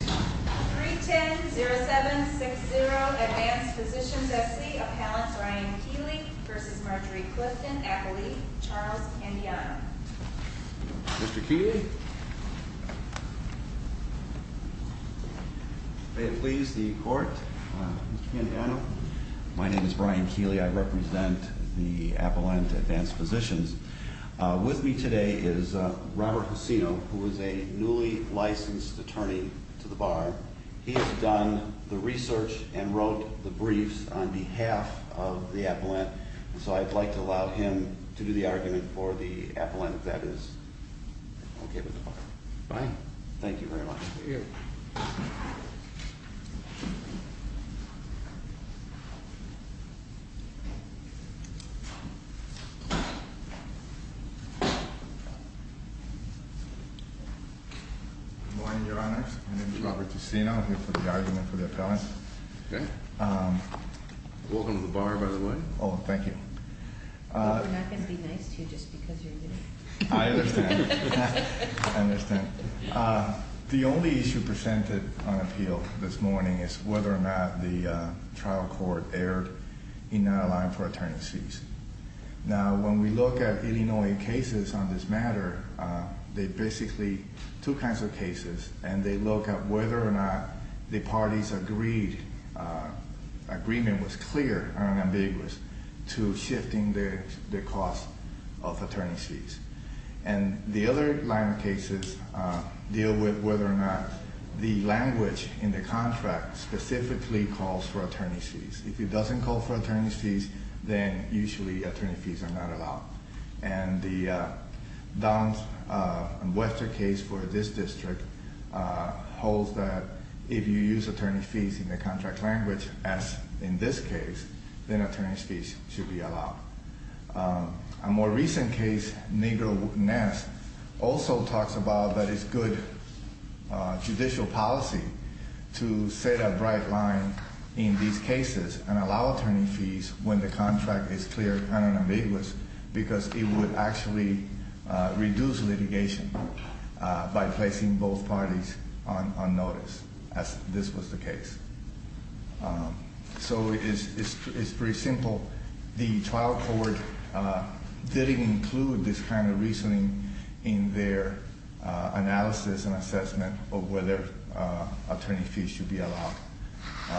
310-0760 Advanced Physicians S.C. Appellant Ryan Keeley v. Marjorie Clifton Appellee Charles Pandiano Mr. Keeley May it please the court, Mr. Pandiano My name is Ryan Keeley, I represent the Appellant Advanced Physicians With me today is Robert Hosino, who is a newly licensed attorney to the Bar He has done the research and wrote the briefs on behalf of the Appellant So I'd like to allow him to do the argument for the Appellant, if that is okay with the Bar Fine Thank you very much Good morning, your honors. My name is Robert Hosino, I'm here for the argument for the Appellant Welcome to the Bar, by the way Oh, thank you We're not going to be nice to you just because you're new I understand I understand The only issue presented on appeal this morning is whether or not the trial court erred in not allowing for attorney's fees Now, when we look at Illinois cases on this matter, they're basically two kinds of cases And they look at whether or not the parties agreed, agreement was clear and ambiguous to shifting the cost of attorney's fees And the other line of cases deal with whether or not the language in the contract specifically calls for attorney's fees If it doesn't call for attorney's fees, then usually attorney's fees are not allowed And the Don and Wester case for this district holds that if you use attorney's fees in the contract language, as in this case, then attorney's fees should be allowed A more recent case, Negro Ness, also talks about that it's good judicial policy to set a bright line in these cases and allow attorney's fees when the contract is clear and ambiguous Because it would actually reduce litigation by placing both parties on notice, as this was the case So it's pretty simple The trial court didn't include this kind of reasoning in their analysis and assessment of whether attorney's fees should be allowed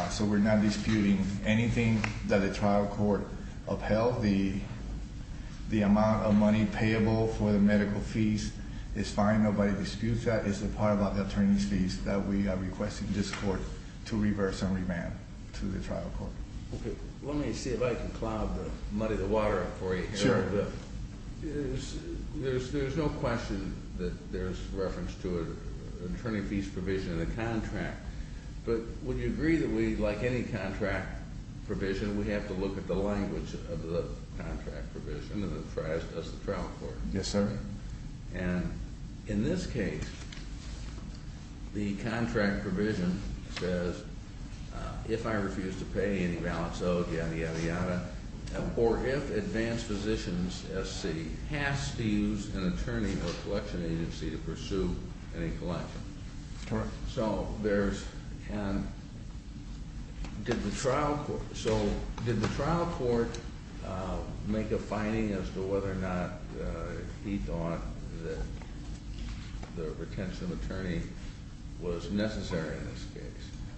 So we're not disputing anything that the trial court upheld The amount of money payable for the medical fees is fine, nobody disputes that It's the part about the attorney's fees that we are requesting this court to reverse and revamp to the trial court Let me see if I can muddy the water up for you There's no question that there's reference to an attorney fees provision in the contract But would you agree that we, like any contract provision, we have to look at the language of the contract provision as does the trial court? Yes, sir And in this case, the contract provision says, if I refuse to pay any balance owed, yadda yadda yadda Or if advanced physicians SC has to use an attorney or collection agency to pursue any collection Correct So did the trial court make a finding as to whether or not he thought that the retention of attorney was necessary in this case?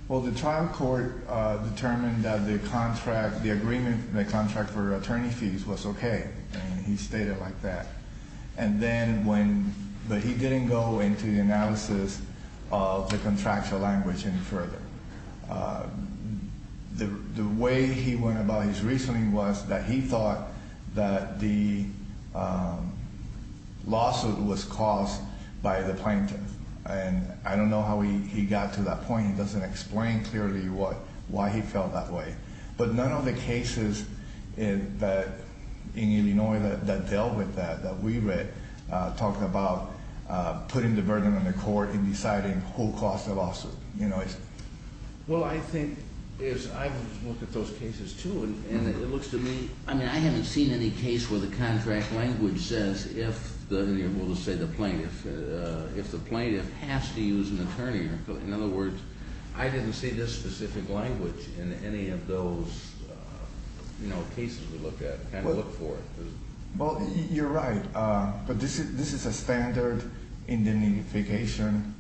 Well, the trial court determined that the agreement for the contract for attorney fees was okay And he stated like that But he didn't go into the analysis of the contractual language any further The way he went about his reasoning was that he thought that the lawsuit was caused by the plaintiff And I don't know how he got to that point, he doesn't explain clearly why he felt that way But none of the cases in Illinois that dealt with that, that we read, talked about putting the burden on the court and deciding who caused the lawsuit Well, I think, I've looked at those cases too, and it looks to me, I haven't seen any case where the contract language says if the plaintiff has to use an attorney In other words, I didn't see this specific language in any of those cases we looked at Well, you're right, but this is a standard indemnification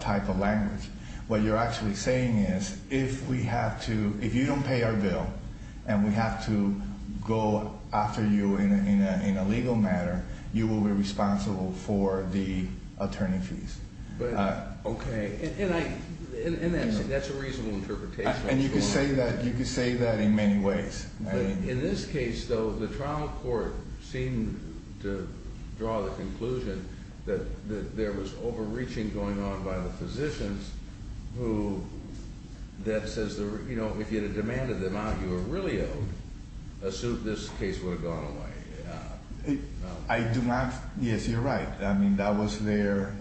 type of language What you're actually saying is, if you don't pay our bill, and we have to go after you in a legal matter, you will be responsible for the attorney fees Okay, and that's a reasonable interpretation And you can say that in many ways In this case though, the trial court seemed to draw the conclusion that there was overreaching going on by the physicians Who, that says, if you had demanded the amount you were really owed, this case would have gone away Yes, you're right, that was their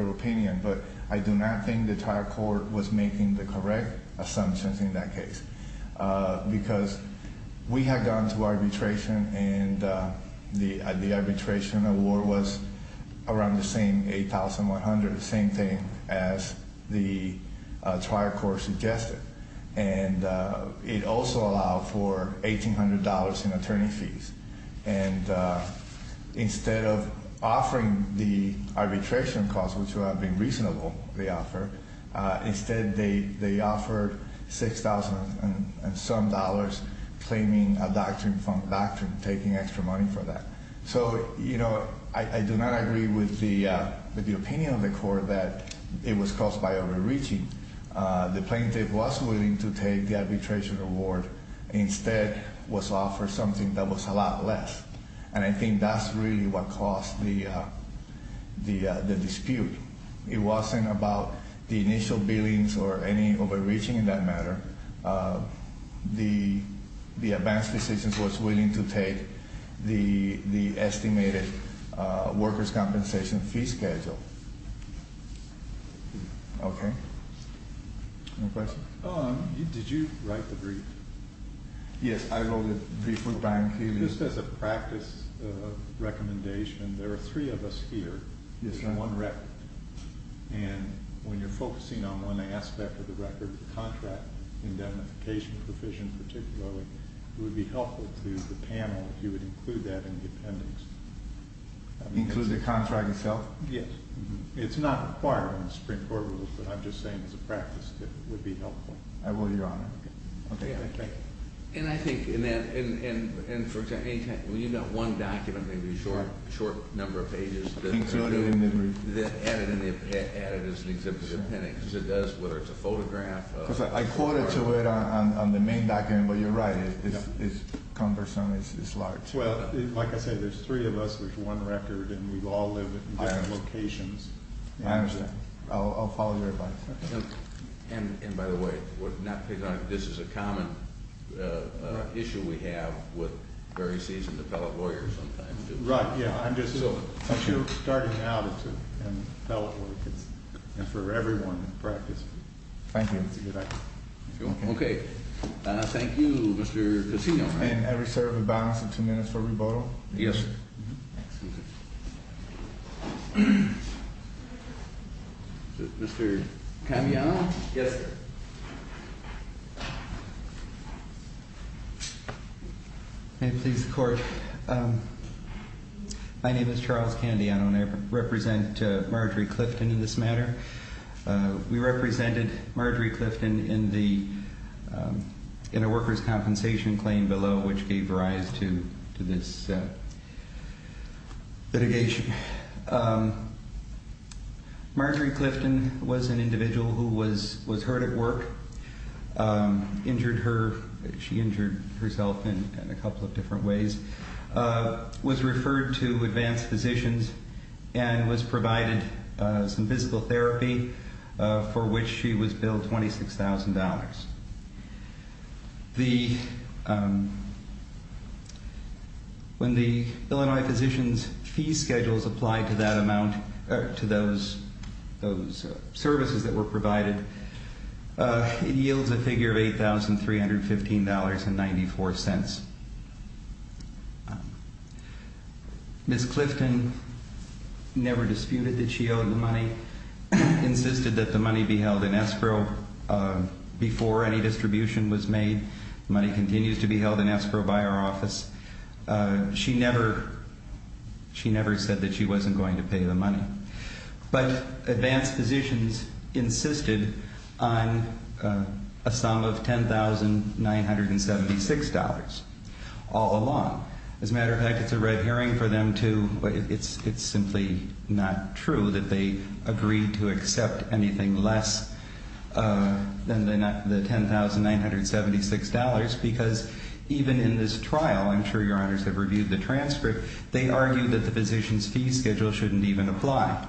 opinion, but I do not think the trial court was making the correct assumptions in that case Because we had gone to arbitration, and the arbitration award was around the same, $8,100, same thing as the trial court suggested And it also allowed for $1,800 in attorney fees And instead of offering the arbitration cost, which would have been reasonable, they offered Instead they offered $6,000 and some dollars claiming a doctrine from doctrine, taking extra money for that So, you know, I do not agree with the opinion of the court that it was caused by overreaching The plaintiff was willing to take the arbitration award, instead was offered something that was a lot less And I think that's really what caused the dispute It wasn't about the initial billings or any overreaching in that matter The advanced decisions was willing to take the estimated workers' compensation fee schedule Okay, any questions? Did you write the brief? Yes, I wrote the brief with Brian Keeley Just as a practice recommendation, there are three of us here on one record And when you're focusing on one aspect of the record, the contract, the indemnification provision particularly It would be helpful to the panel if you would include that in the appendix Include the contract itself? Yes It's not required in the Supreme Court rules, but I'm just saying as a practice tip, it would be helpful I will, Your Honor And I think, for example, you've got one document, maybe a short number of pages Include it in the brief Add it as an exemplary appendix, whether it's a photograph I quoted to it on the main document, but you're right, it's cumbersome, it's large Well, like I said, there's three of us with one record, and we all live in different locations I understand I'll follow your advice And by the way, this is a common issue we have with very seasoned appellate lawyers sometimes Right, yeah, I'm just starting out in appellate work, and for everyone in practice Thank you Okay, thank you, Mr. Casino And I reserve the balance of two minutes for rebuttal Yes, sir Mr. Candiano Yes, sir May it please the Court My name is Charles Candiano, and I represent Marjorie Clifton in this matter We represented Marjorie Clifton in a workers' compensation claim below, which gave rise to this litigation Marjorie Clifton was an individual who was hurt at work Injured her, she injured herself in a couple of different ways Was referred to Advanced Physicians and was provided some physical therapy for which she was billed $26,000 When the Illinois Physicians' fee schedules apply to that amount, to those services that were provided, it yields a figure of $8,315.94 Ms. Clifton never disputed that she owed the money Insisted that the money be held in escrow before any distribution was made The money continues to be held in escrow by our office She never said that she wasn't going to pay the money But Advanced Physicians insisted on a sum of $10,976 all along As a matter of fact, it's a red herring for them to... It's simply not true that they agreed to accept anything less than the $10,976 Because even in this trial, I'm sure Your Honors have reviewed the transcript They argued that the Physicians' fee schedule shouldn't even apply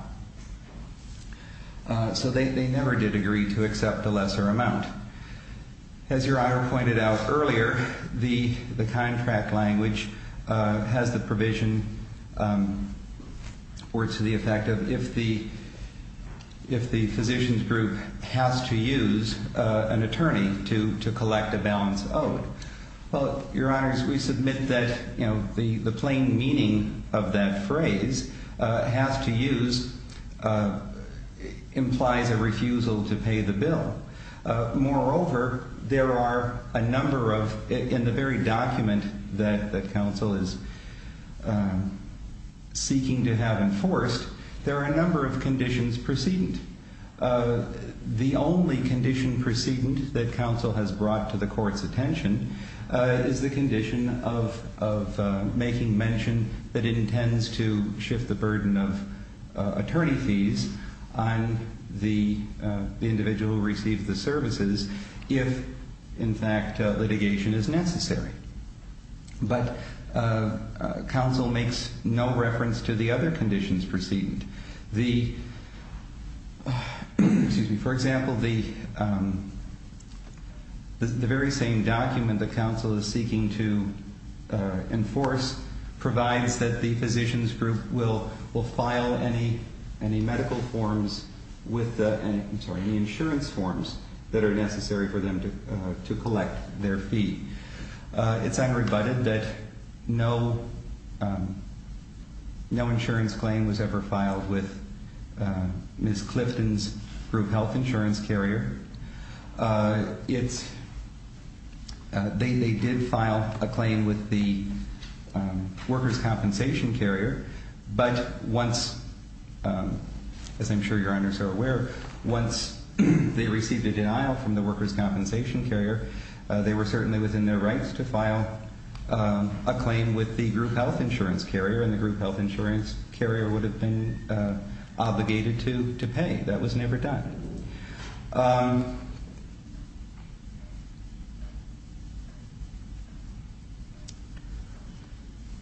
So they never did agree to accept a lesser amount As Your Honor pointed out earlier, the contract language has the provision or to the effect of If the Physicians' group has to use an attorney to collect a balance owed Well, Your Honors, we submit that the plain meaning of that phrase Has to use implies a refusal to pay the bill Moreover, there are a number of... In the very document that counsel is seeking to have enforced There are a number of conditions precedent The only condition precedent that counsel has brought to the court's attention Is the condition of making mention that it intends to shift the burden of attorney fees On the individual who received the services if, in fact, litigation is necessary But counsel makes no reference to the other conditions precedent The... Excuse me For example, the very same document that counsel is seeking to enforce Provides that the Physicians' group will file any medical forms with the... I'm sorry, any insurance forms that are necessary for them to collect their fee It's unrebutted that no insurance claim was ever filed with Ms. Clifton's group health insurance carrier It's... They did file a claim with the workers' compensation carrier But once... As I'm sure Your Honors are aware Once they received a denial from the workers' compensation carrier They were certainly within their rights to file a claim with the group health insurance carrier And the group health insurance carrier would have been obligated to pay That was never done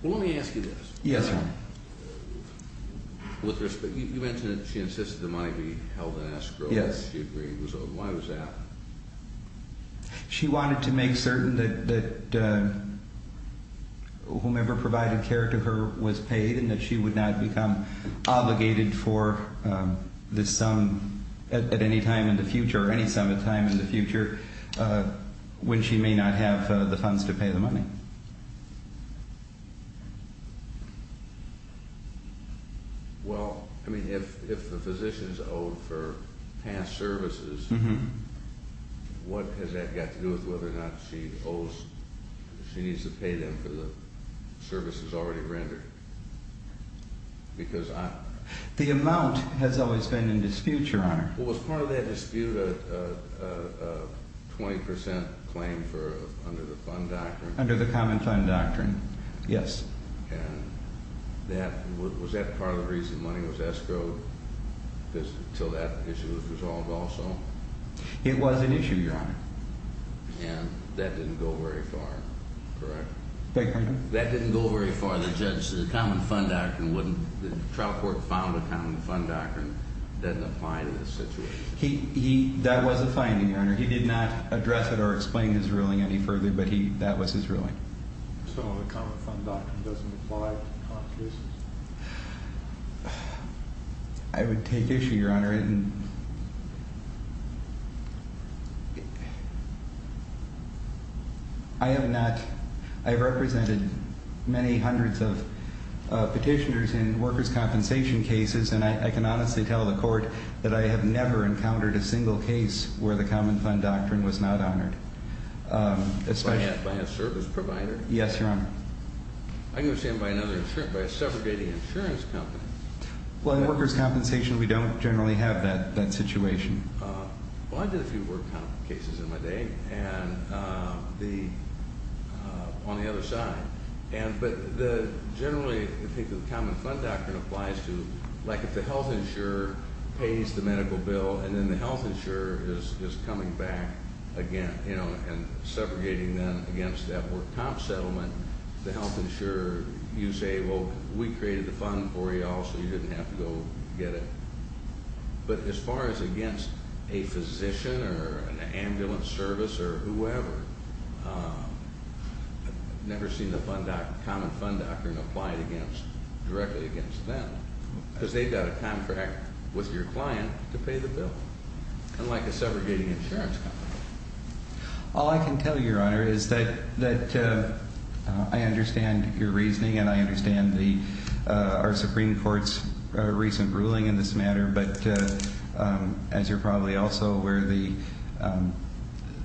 Let me ask you this Yes, Your Honor With respect... You mentioned that she insisted the money be held in escrow Yes Why was that? She wanted to make certain that... Whomever provided care to her was paid And that she would not become obligated for this sum at any time in the future Or any sum of time in the future When she may not have the funds to pay the money Well, I mean, if the physician is owed for past services What has that got to do with whether or not she owes... She needs to pay them for the services already rendered Because I... The amount has always been in dispute, Your Honor Was part of that dispute a 20% claim for... Under the fund doctrine Under the common fund doctrine Yes And that... Was that part of the reason money was escrowed? Until that issue was resolved also? It was an issue, Your Honor And that didn't go very far, correct? Beg your pardon? That didn't go very far The judge... The common fund doctrine wouldn't... The trial court found a common fund doctrine Doesn't apply to this situation He... That was a finding, Your Honor He did not address it or explain his ruling any further But he... That was his ruling So the common fund doctrine doesn't apply to this? I would take issue, Your Honor And... I have not... I've represented many hundreds of petitioners In workers' compensation cases And I can honestly tell the court That I have never encountered a single case Where the common fund doctrine was not honored By a service provider? Yes, Your Honor I understand by another insurance... By a segregated insurance company Well, in workers' compensation We don't generally have that situation Well, I did a few work cases in my day And... The... On the other side And... But the... Generally, I think the common fund doctrine applies to Like if the health insurer pays the medical bill And then the health insurer is coming back again You know, and... Segregating them against that work comp settlement The health insurer... You say, well, we created the fund for you all So you didn't have to go get it But as far as against a physician Or an ambulance service Or whoever I've never seen the fund doct... Common fund doctrine applied against... Directly against them Because they've got a contract with your client To pay the bill Unlike a segregating insurance company All I can tell you, Your Honor, is that... That... I understand your reasoning And I understand the... Our Supreme Court's recent ruling in this matter But... As you're probably also aware The...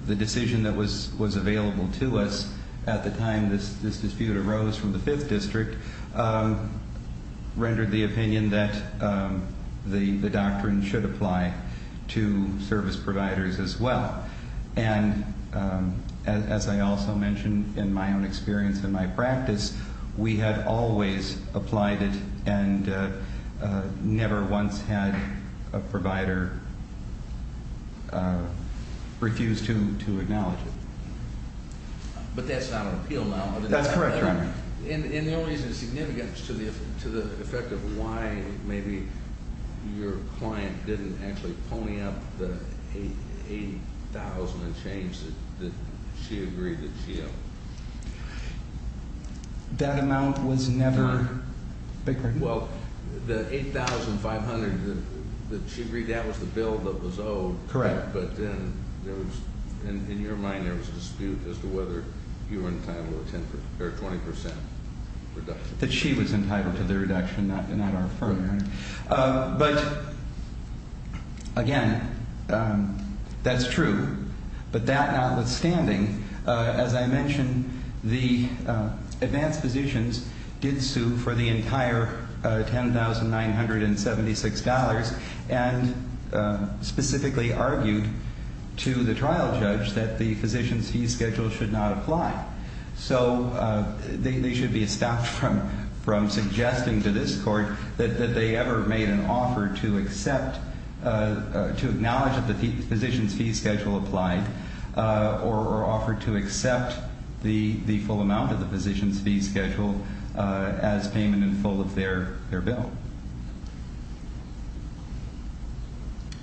The decision that was available to us At the time this dispute arose from the 5th District Rendered the opinion that... The doctrine should apply To service providers as well And... As I also mentioned in my own experience in my practice We have always applied it And... Never once had a provider... Refused to acknowledge it But that's not an appeal now That's correct, Your Honor And the only reason it's significant Is to the effect of why maybe... Your client didn't actually pony up the... Eight... Eight thousand and change that... That she agreed that she owed That amount was never... Bigger Well... The 8,500 that... That she agreed that was the bill that was owed Correct But then... There was... In your mind, there was a dispute as to whether... You were entitled to 10 percent... Or 20 percent reduction That she was entitled to the reduction Not our firm, Your Honor But... Again... That's true But that notwithstanding... As I mentioned... The... Advanced Physicians... Did sue for the entire... 10,976 dollars And... Specifically argued... To the trial judge... That the physician's fee schedule should not apply So... They should be stopped from... From suggesting to this court... That they ever made an offer to accept... To acknowledge that the physician's fee schedule applied Or offered to accept... The full amount of the physician's fee schedule... As payment in full of their bill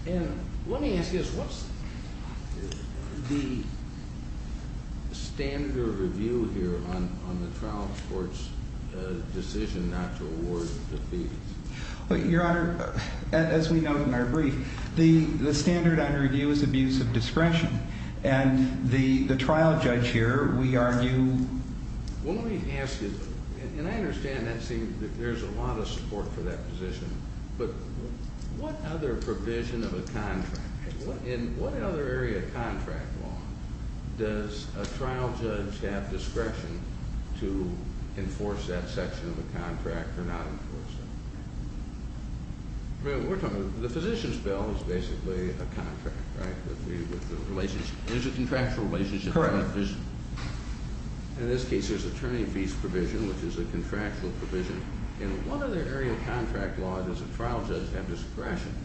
And... Let me ask you this... What's... The... Standard of review here... On the trial court's... Decision not to award... The physician's fees? Your Honor... As we know from our brief... The... The standard on review is abuse of discretion And... The... The trial judge here... We argue... Well, let me ask you this... And I understand that seems... That there's a lot of support for that position... But... What other provision of a contract... In what other area of contract law... Does a trial judge have discretion... To... Enforce that section of a contract... Or not enforce that? Well, we're talking... The physician's bill is basically... A contract, right? With the... Relationship... There's a contractual relationship... Correct... There's... In this case, there's attorney fees provision... Which is a contractual provision... In what other area of contract law... Does a trial judge have discretion...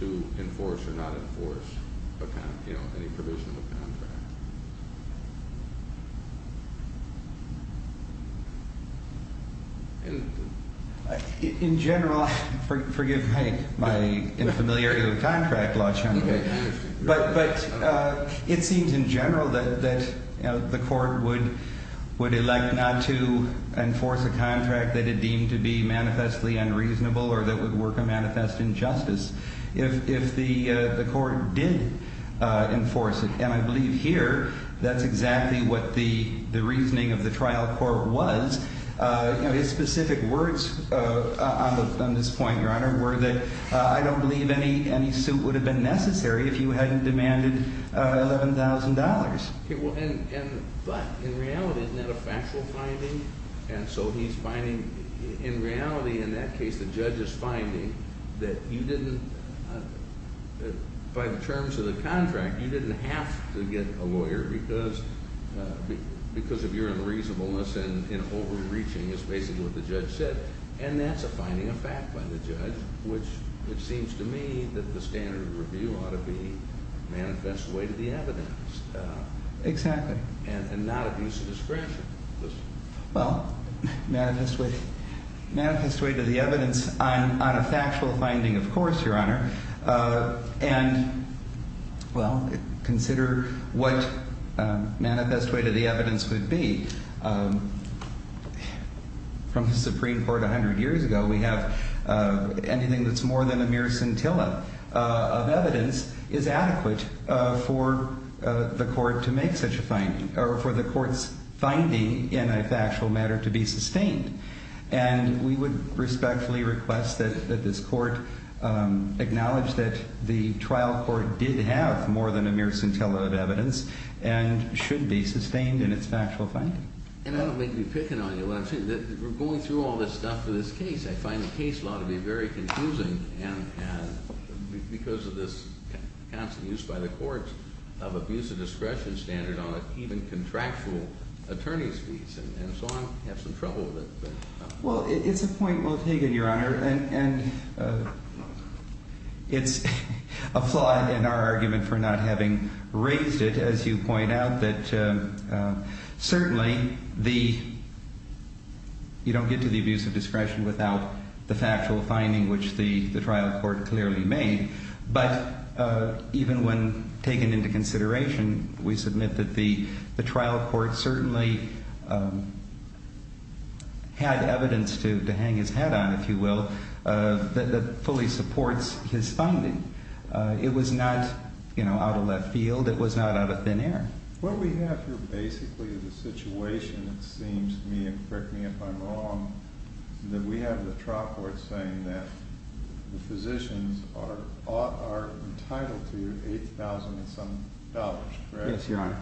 To enforce or not enforce... A con... You know, any provision of a contract? In... In general... Forgive my... My... Infamiliarity with contract law... But... But... It seems in general... That... That... The court would... Would elect not to... Enforce a contract... That it deemed to be... Manifestly unreasonable... If the... The court did... Enforce it... And I believe here... That... That... That... That... That... That... That... That... I think that here... That's exactly what the... The reasoning of the trial court was... You know, his specific words... On the... On this point, your honor, were that... I don't believe any... Any suit would have been necessary... If you hadn't demanded $11,000... Okay, well, and... And but... In reality, isn't that a factual finding? And so he's finding... In reality, in that case... The judge is finding that... You didn't... By the terms of the contract... You didn't have to get a lower price... Because... Because of your unreasonableness... And overreaching... Is basically what the judge said... And that's a finding of fact by the judge... Which... It seems to me... That the standard of review... Ought to be... Manifest way to the evidence... Exactly... And not abuse of discretion... Listen... Well... Manifest way... Manifest way to the evidence... On a factual finding... Of course, your honor... And... Well... Consider... What... Manifest way to the evidence would be... From the Supreme Court a hundred years ago... We have... Anything that's more than a mere scintilla... Of evidence... Is adequate... For... The court to make such a finding... Or for the court's finding... In a factual matter to be sustained... And... We would respectfully request that... That this court... Acknowledge that... The trial court did have... A mere scintilla of evidence... And... Should be sustained in its factual finding... And I don't mean to be picking on you... When I'm saying that... We're going through all this stuff for this case... I find the case law to be very confusing... And... And... Because of this... Constant use by the courts... Of abuse of discretion standard... On an even contractual... Attorney's fees... And so on... I have some trouble with it... But... Well, it's a point well taken, your honor... And... And... It's... A flaw in our argument... And... Raised it... As you point out... That... Certainly... The... You don't get to the abuse of discretion... Without the factual finding... Which the trial court clearly made... But... Even when... Taken into consideration... We submit that the... The trial court certainly... Had evidence to hang his head on... If you will... That fully supports his finding... It was not... You know... It was not out of left field... It was not out of thin air... What we have here basically... Is a situation... It seems to me... And correct me if I'm wrong... That we have the trial court saying that... The physicians are... Ought... Are entitled to... Eight thousand and some dollars... Correct? Yes, your honor...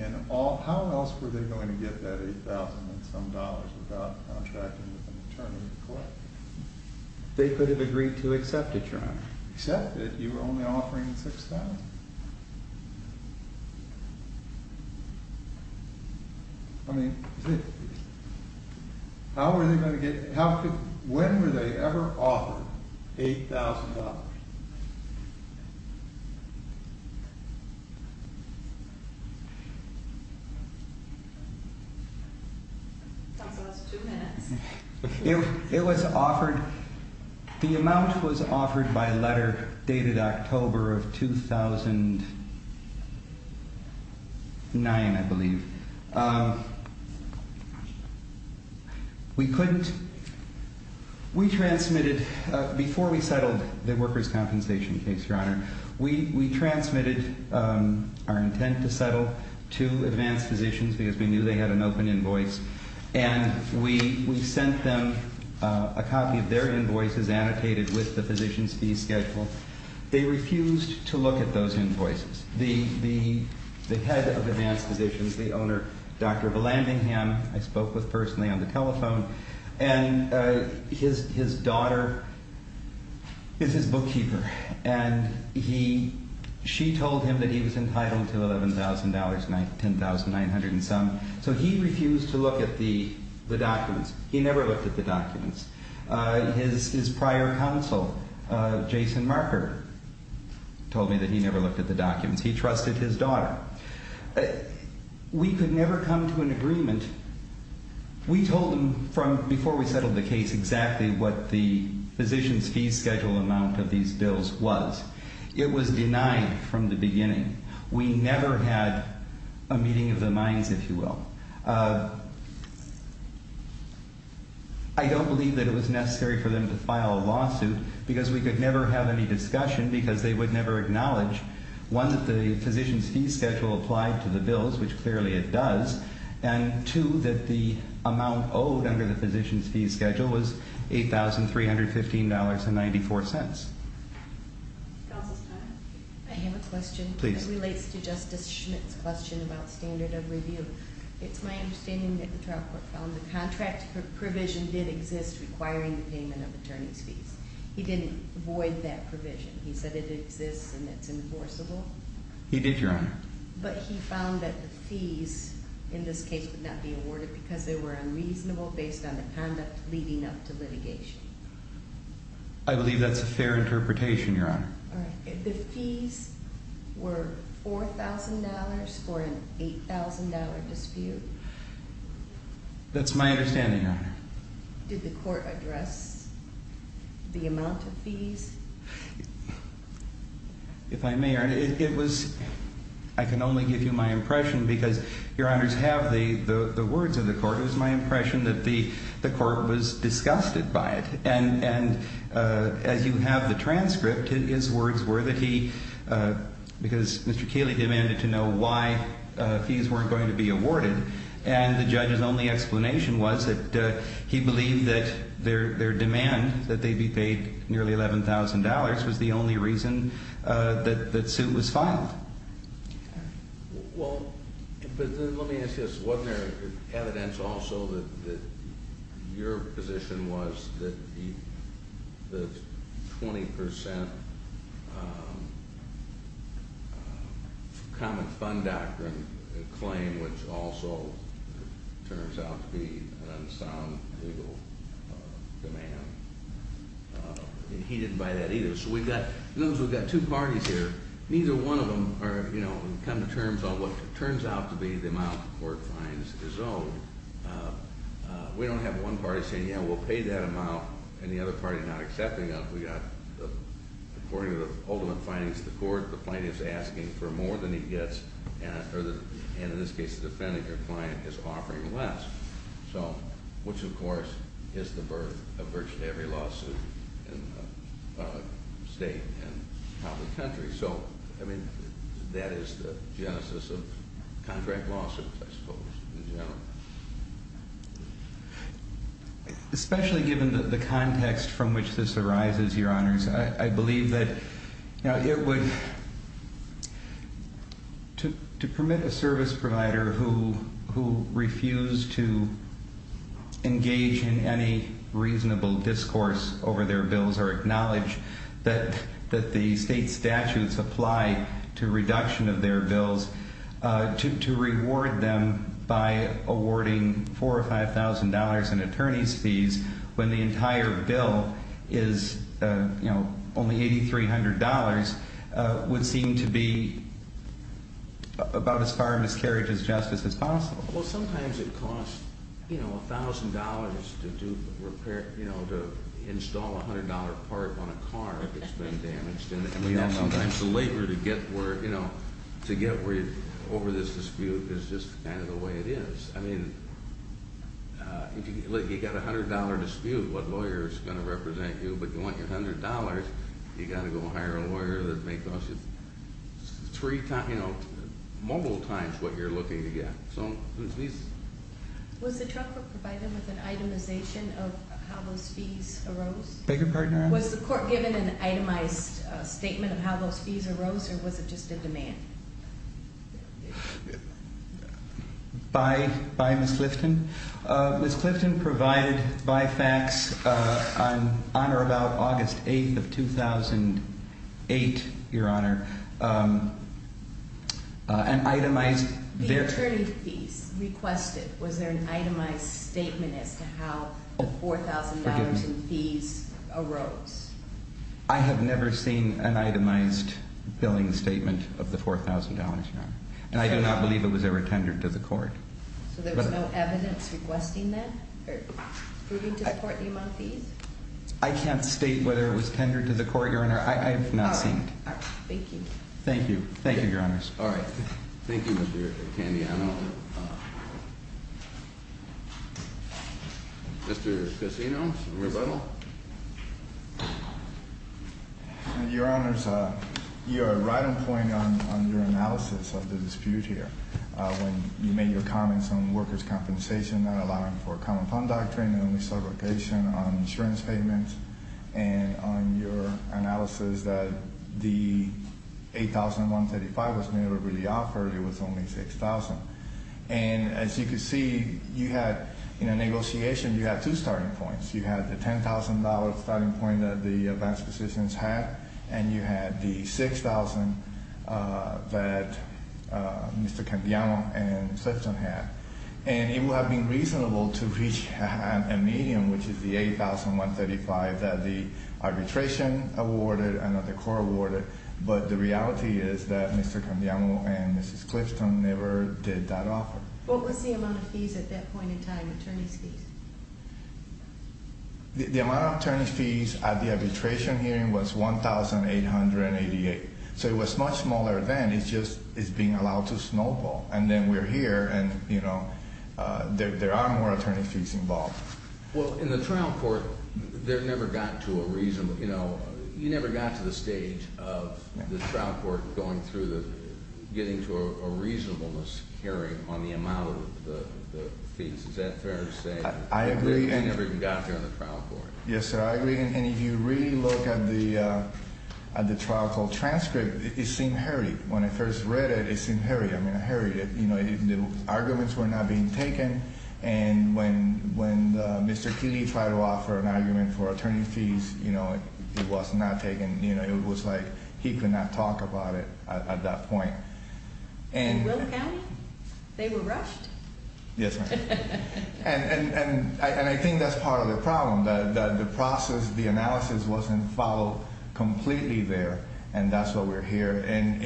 And all... How else were they going to get that... Eight thousand and some dollars... Without contracting with an attorney to collect it? They could have agreed to accept it, your honor... Accept it? That you were only offering six thousand? I mean... How were they going to get... How could... When were they ever offered... Eight thousand dollars? Counsel, that's two minutes... It was offered... The amount was offered by letter... Dated October of two thousand... Nine, I believe... We couldn't... We transmitted... Before we settled... The workers' compensation case, your honor... We transmitted... Our intent to settle... To advanced physicians... Because we knew they had an open invoice... And we sent them... A copy of their invoices... And annotated with the physician's fee schedule... They refused to look at those invoices... The head of advanced physicians... The owner, Dr. Vallandigham... I spoke with personally on the telephone... And his daughter... Is his bookkeeper... And he... She told him that he was entitled to eleven thousand dollars... Ten thousand, nine hundred and some... So he refused to look at the documents... He never looked at the documents... His prior counsel... Jason Marker... Told me that he never looked at the documents... He trusted his daughter... We could never come to an agreement... We told him... Before we settled the case... Exactly what the... Physician's fee schedule amount of these bills was... It was denied from the beginning... We never had... A meeting of the minds, if you will... I don't believe that it was necessary for them to file a lawsuit... Because we could never have any discussion... Because they would never acknowledge... One, that the physician's fee schedule applied to the bills... Which clearly it does... And two, that the amount owed under the physician's fee schedule was... Eight thousand, three hundred and fifteen dollars and ninety-four cents... Counsel's time... I have a question... Please... It relates to Justice Schmidt's question about standard of review... It's my understanding that the trial court found the contract provision did exist... Requiring the payment of attorney's fees... He didn't void that provision... He said it exists and it's enforceable... He did, your honor... But he found that the fees in this case would not be awarded... Because they were unreasonable based on the conduct leading up to litigation... I believe that's a fair interpretation, your honor... The fees were four thousand dollars for an eight thousand dollar dispute... That's my understanding, your honor... Did the court address the amount of fees? If I may, your honor... It was... I can only give you my impression... Because your honors have the words of the court... It was my impression that the court was disgusted by it... And as you have the transcript... His words were that he... Because Mr. Cayley demanded to know why fees weren't going to be awarded... And the judge's only explanation was that he believed that their demand... That they be paid nearly eleven thousand dollars was the only reason that suit was filed... Well... But let me ask you this... Wasn't there evidence also that your position was... The twenty percent... Common fund doctrine claim... Which also turns out to be an unsound legal demand... He didn't buy that either... So we've got... Notice we've got two parties here... Neither one of them are, you know... Come to terms on what turns out to be the amount the court finds is owed... We don't have one party saying... Yeah, we'll pay that amount... And the other party not accepting that... We've got... According to the ultimate findings of the court... The plaintiff's asking for more than he gets... And in this case, the defendant, your client, is offering less... So... Which, of course, is the birth of virtually every lawsuit... In the state and out in the country... So... I mean... That is the genesis of contract lawsuits, I suppose, in general... Especially given the context from which this arises, your honors... I believe that it would... To permit a service provider who refused to engage in any reasonable discourse over their bills... Or acknowledge that the state statutes apply to reduction of their bills... To reward them by awarding $4,000 or $5,000 in attorney's fees... When the entire bill is, you know, only $8,300... Would seem to be about as far a miscarriage of justice as possible... Well, sometimes it costs, you know, $1,000 to do repair... You know, to install a $100 part on a car that's been damaged... And sometimes the labor to get where... You know, to get over this dispute is just kind of the way it is... I mean... If you've got a $100 dispute, what lawyer is going to represent you? But you want your $100, you've got to go hire a lawyer that may cost you... Three times... Multiple times what you're looking to get... So... Was the trial court provided with an itemization of how those fees arose? Beg your pardon, Your Honor? Was the court given an itemized statement of how those fees arose or was it just a demand? By Ms. Clifton? Ms. Clifton provided by fax on or about August 8th of 2008, Your Honor... An itemized... The attorney's fees requested... $4,000 in fees arose... I have never seen an itemized billing statement of the $4,000, Your Honor. And I do not believe it was ever tendered to the court. So there was no evidence requesting that? Or proving to support the amount of fees? I can't state whether it was tendered to the court, Your Honor. I have not seen it. Thank you. Thank you. Thank you, Your Honors. All right. Thank you, Mr. Candiano. Thank you, Your Honor. Mr. Casinos, rebuttal? Your Honors, you are right on point on your analysis of the dispute here. When you made your comments on workers' compensation, not allowing for a common fund doctrine, and only sublocation on insurance payments, and on your analysis that the $8,135 was never really offered, it was only $6,000. And as you can see, you had, in a negotiation, you had two starting points. You had the $10,000 starting point that the advance positions had, and you had the $6,000 that Mr. Candiano and Ms. Clifton had. And it would have been reasonable to reach a medium, which is the $8,135 that the arbitration awarded and that the court awarded. But the reality is that Mr. Candiano and Ms. Clifton never did that offer. What was the amount of fees at that point in time, attorney's fees? The amount of attorney's fees at the arbitration hearing was $1,888. So it was much smaller then. It's just, it's being allowed to snowball. And then we're here, and, you know, there are more attorney's fees involved. Well, in the trial court, there never got to a reasonable, you know, you never got to the stage of the trial court going through the, getting to a reasonableness hearing on the amount of the fees. Is that fair to say? I agree. They never even got there in the trial court. Yes, sir, I agree. And if you really look at the trial court transcript, it seemed hurried. When I first read it, it seemed hurried. I mean, hurried. You know, the arguments were not being taken. And when Mr. Keeley tried to offer an argument for attorney's fees, you know, it was not taken. You know, it was like he could not talk about it at that point. In Willis County? They were rushed? Yes, ma'am. And I think that's part of the problem, that the process, the analysis wasn't followed completely there. And that's why we're here. And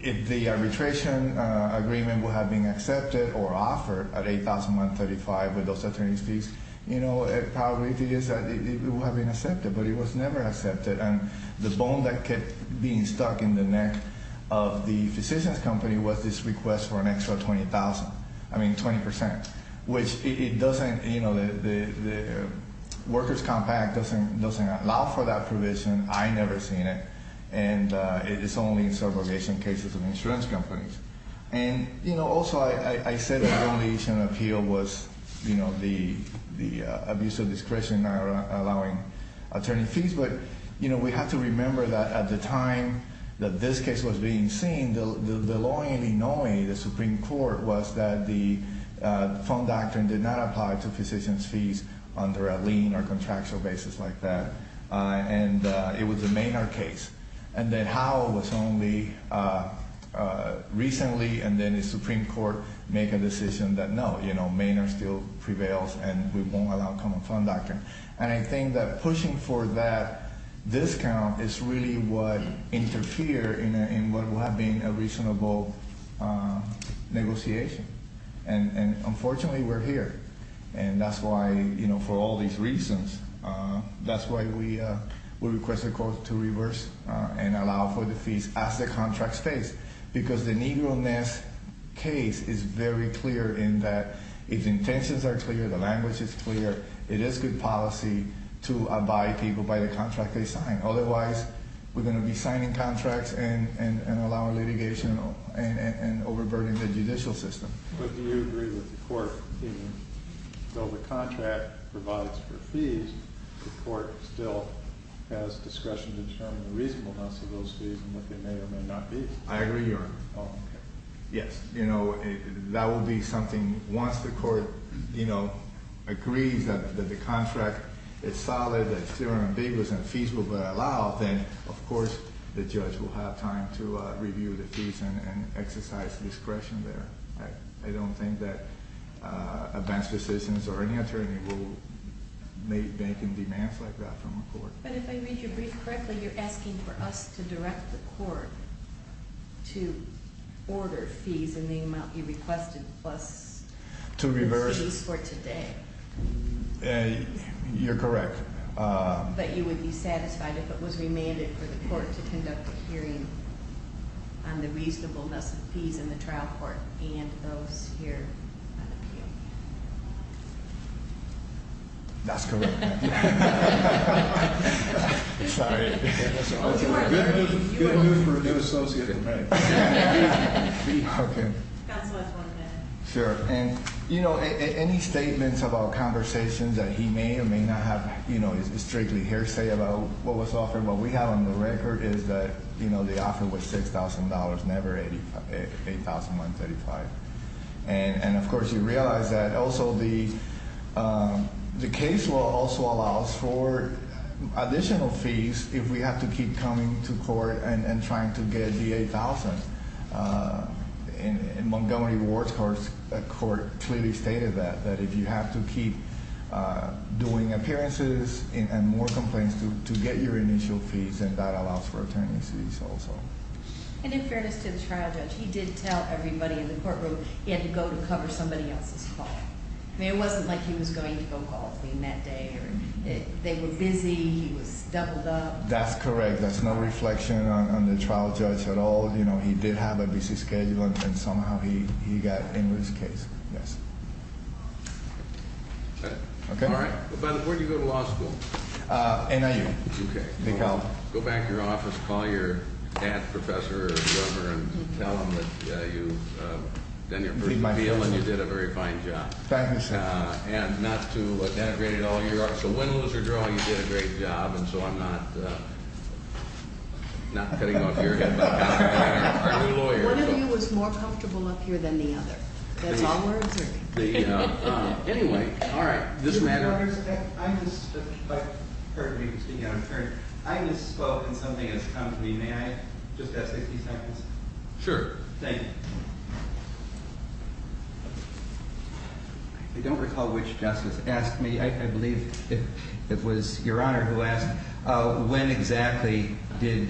if the arbitration agreement would have been accepted or offered at $8,135 with those attorney's fees, you know, the probability is that it would have been accepted, but it was never accepted. And the bone that kept being stuck in the neck of the physician's company was this request for an extra $20,000, I mean 20%, which it doesn't, you know, the workers' compact doesn't allow for that provision. I never seen it. And it's only in segregation cases of insurance companies. And, you know, also I said the only issue in appeal was, you know, the abuse of discretion allowing attorney fees. But, you know, we have to remember that at the time that this case was being seen, the law in Illinois, the Supreme Court, was that the fund doctrine did not apply to physician's fees under a lien or contractual basis like that. And it was a Maynard case. And then Howell was only recently and then the Supreme Court make a decision that, no, you know, Maynard still prevails and we won't allow common fund doctrine. And I think that pushing for that discount is really what interfered in what would have been a reasonable negotiation. And, unfortunately, we're here. And that's why, you know, for all these reasons, that's why we request the court to reverse and allow for the fees as the contracts face. Because the Negroness case is very clear in that its intentions are clear, the language is clear. It is good policy to abide people by the contract they sign. Otherwise, we're going to be signing contracts and allowing litigation and overburdening the judicial system. But do you agree with the court, even though the contract provides for fees, the court still has discretion to determine the reasonableness of those fees and what they may or may not be? I agree, Your Honor. Oh, okay. Yes. You know, that will be something once the court, you know, agrees that the contract is solid, that it's theorem ambiguous and fees will be allowed, then, of course, the judge will have time to review the fees and exercise discretion there. I don't think that advance decisions or any attorney will make banking demands like that from the court. But if I read your brief correctly, you're asking for us to direct the court to order fees in the amount you requested plus- To reverse- The fees for today. You're correct. But you would be satisfied if it was remanded for the court to conduct a hearing on the reasonableness of fees in the trial court and those here on appeal? That's correct. Sorry. Good news for a new associate in bank. Counsel has one minute. Sure. And, you know, any statements about conversations that he may or may not have, you know, is strictly hearsay about what was offered. What we have on the record is that, you know, the offer was $6,000, never $8,135. And, of course, you realize that also the case law also allows for additional fees if we have to keep coming to court and trying to get the $8,000. And Montgomery Ward's court clearly stated that, that if you have to keep doing appearances and more complaints to get your initial fees, then that allows for attorney's fees also. And in fairness to the trial judge, he did tell everybody in the courtroom he had to go to cover somebody else's call. I mean, it wasn't like he was going to go call clean that day. They were busy. He was doubled up. That's correct. That's not a reflection on the trial judge at all. You know, he did have a busy schedule, and somehow he got into his case. Yes. All right. By the way, where did you go to law school? NIU. Okay. Go back to your office, call your dad, professor, or whoever, and tell them that you did a very fine job. Thank you, sir. And not to denigrate it all. So win, lose, or draw, you did a great job. And so I'm not cutting off your head. Are you a lawyer? One of you was more comfortable up here than the other. That's all we're observing. Anyway. All right. This matter. I misspoke in something that's come to me. May I just have 60 seconds? Sure. Thank you. I don't recall which justice asked me. I believe it was Your Honor who asked, when exactly did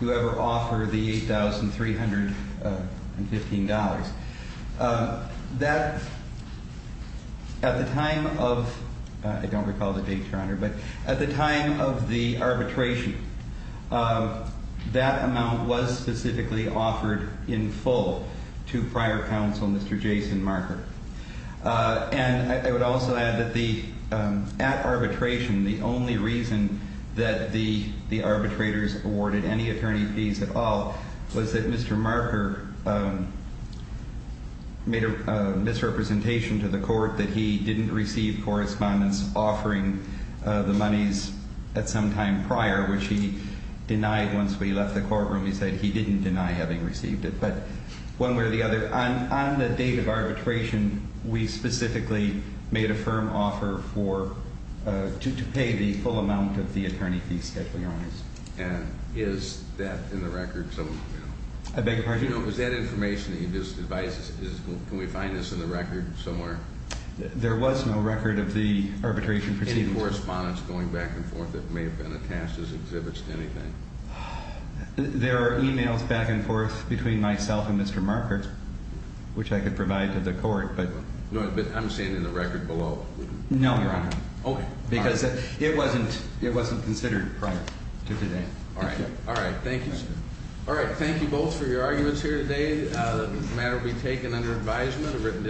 you ever offer the $8,315? That, at the time of, I don't recall the date, Your Honor, but at the time of the arbitration, that amount was specifically offered in full to prior counsel, Mr. Jason Marker. And I would also add that at arbitration, the only reason that the arbitrators awarded any attorney fees at all was that Mr. Marker made a misrepresentation to the court that he didn't receive correspondence offering the monies at some time prior, which he denied once we left the courtroom. He said he didn't deny having received it. But one way or the other, on the date of arbitration, we specifically made a firm offer for, to pay the full amount of the attorney fees, Your Honor. And is that in the record somewhere? I beg your pardon? Was that information that you just advised us, can we find this in the record somewhere? There was no record of the arbitration proceedings. Any correspondence going back and forth that may have been attached as exhibits to anything? There are emails back and forth between myself and Mr. Marker, which I could provide to the court. But I'm saying in the record below. No, Your Honor. Okay. Because it wasn't considered prior to today. All right. All right. Thank you, sir. All right. Thank you both for your arguments here today. The matter will be taken under advisement.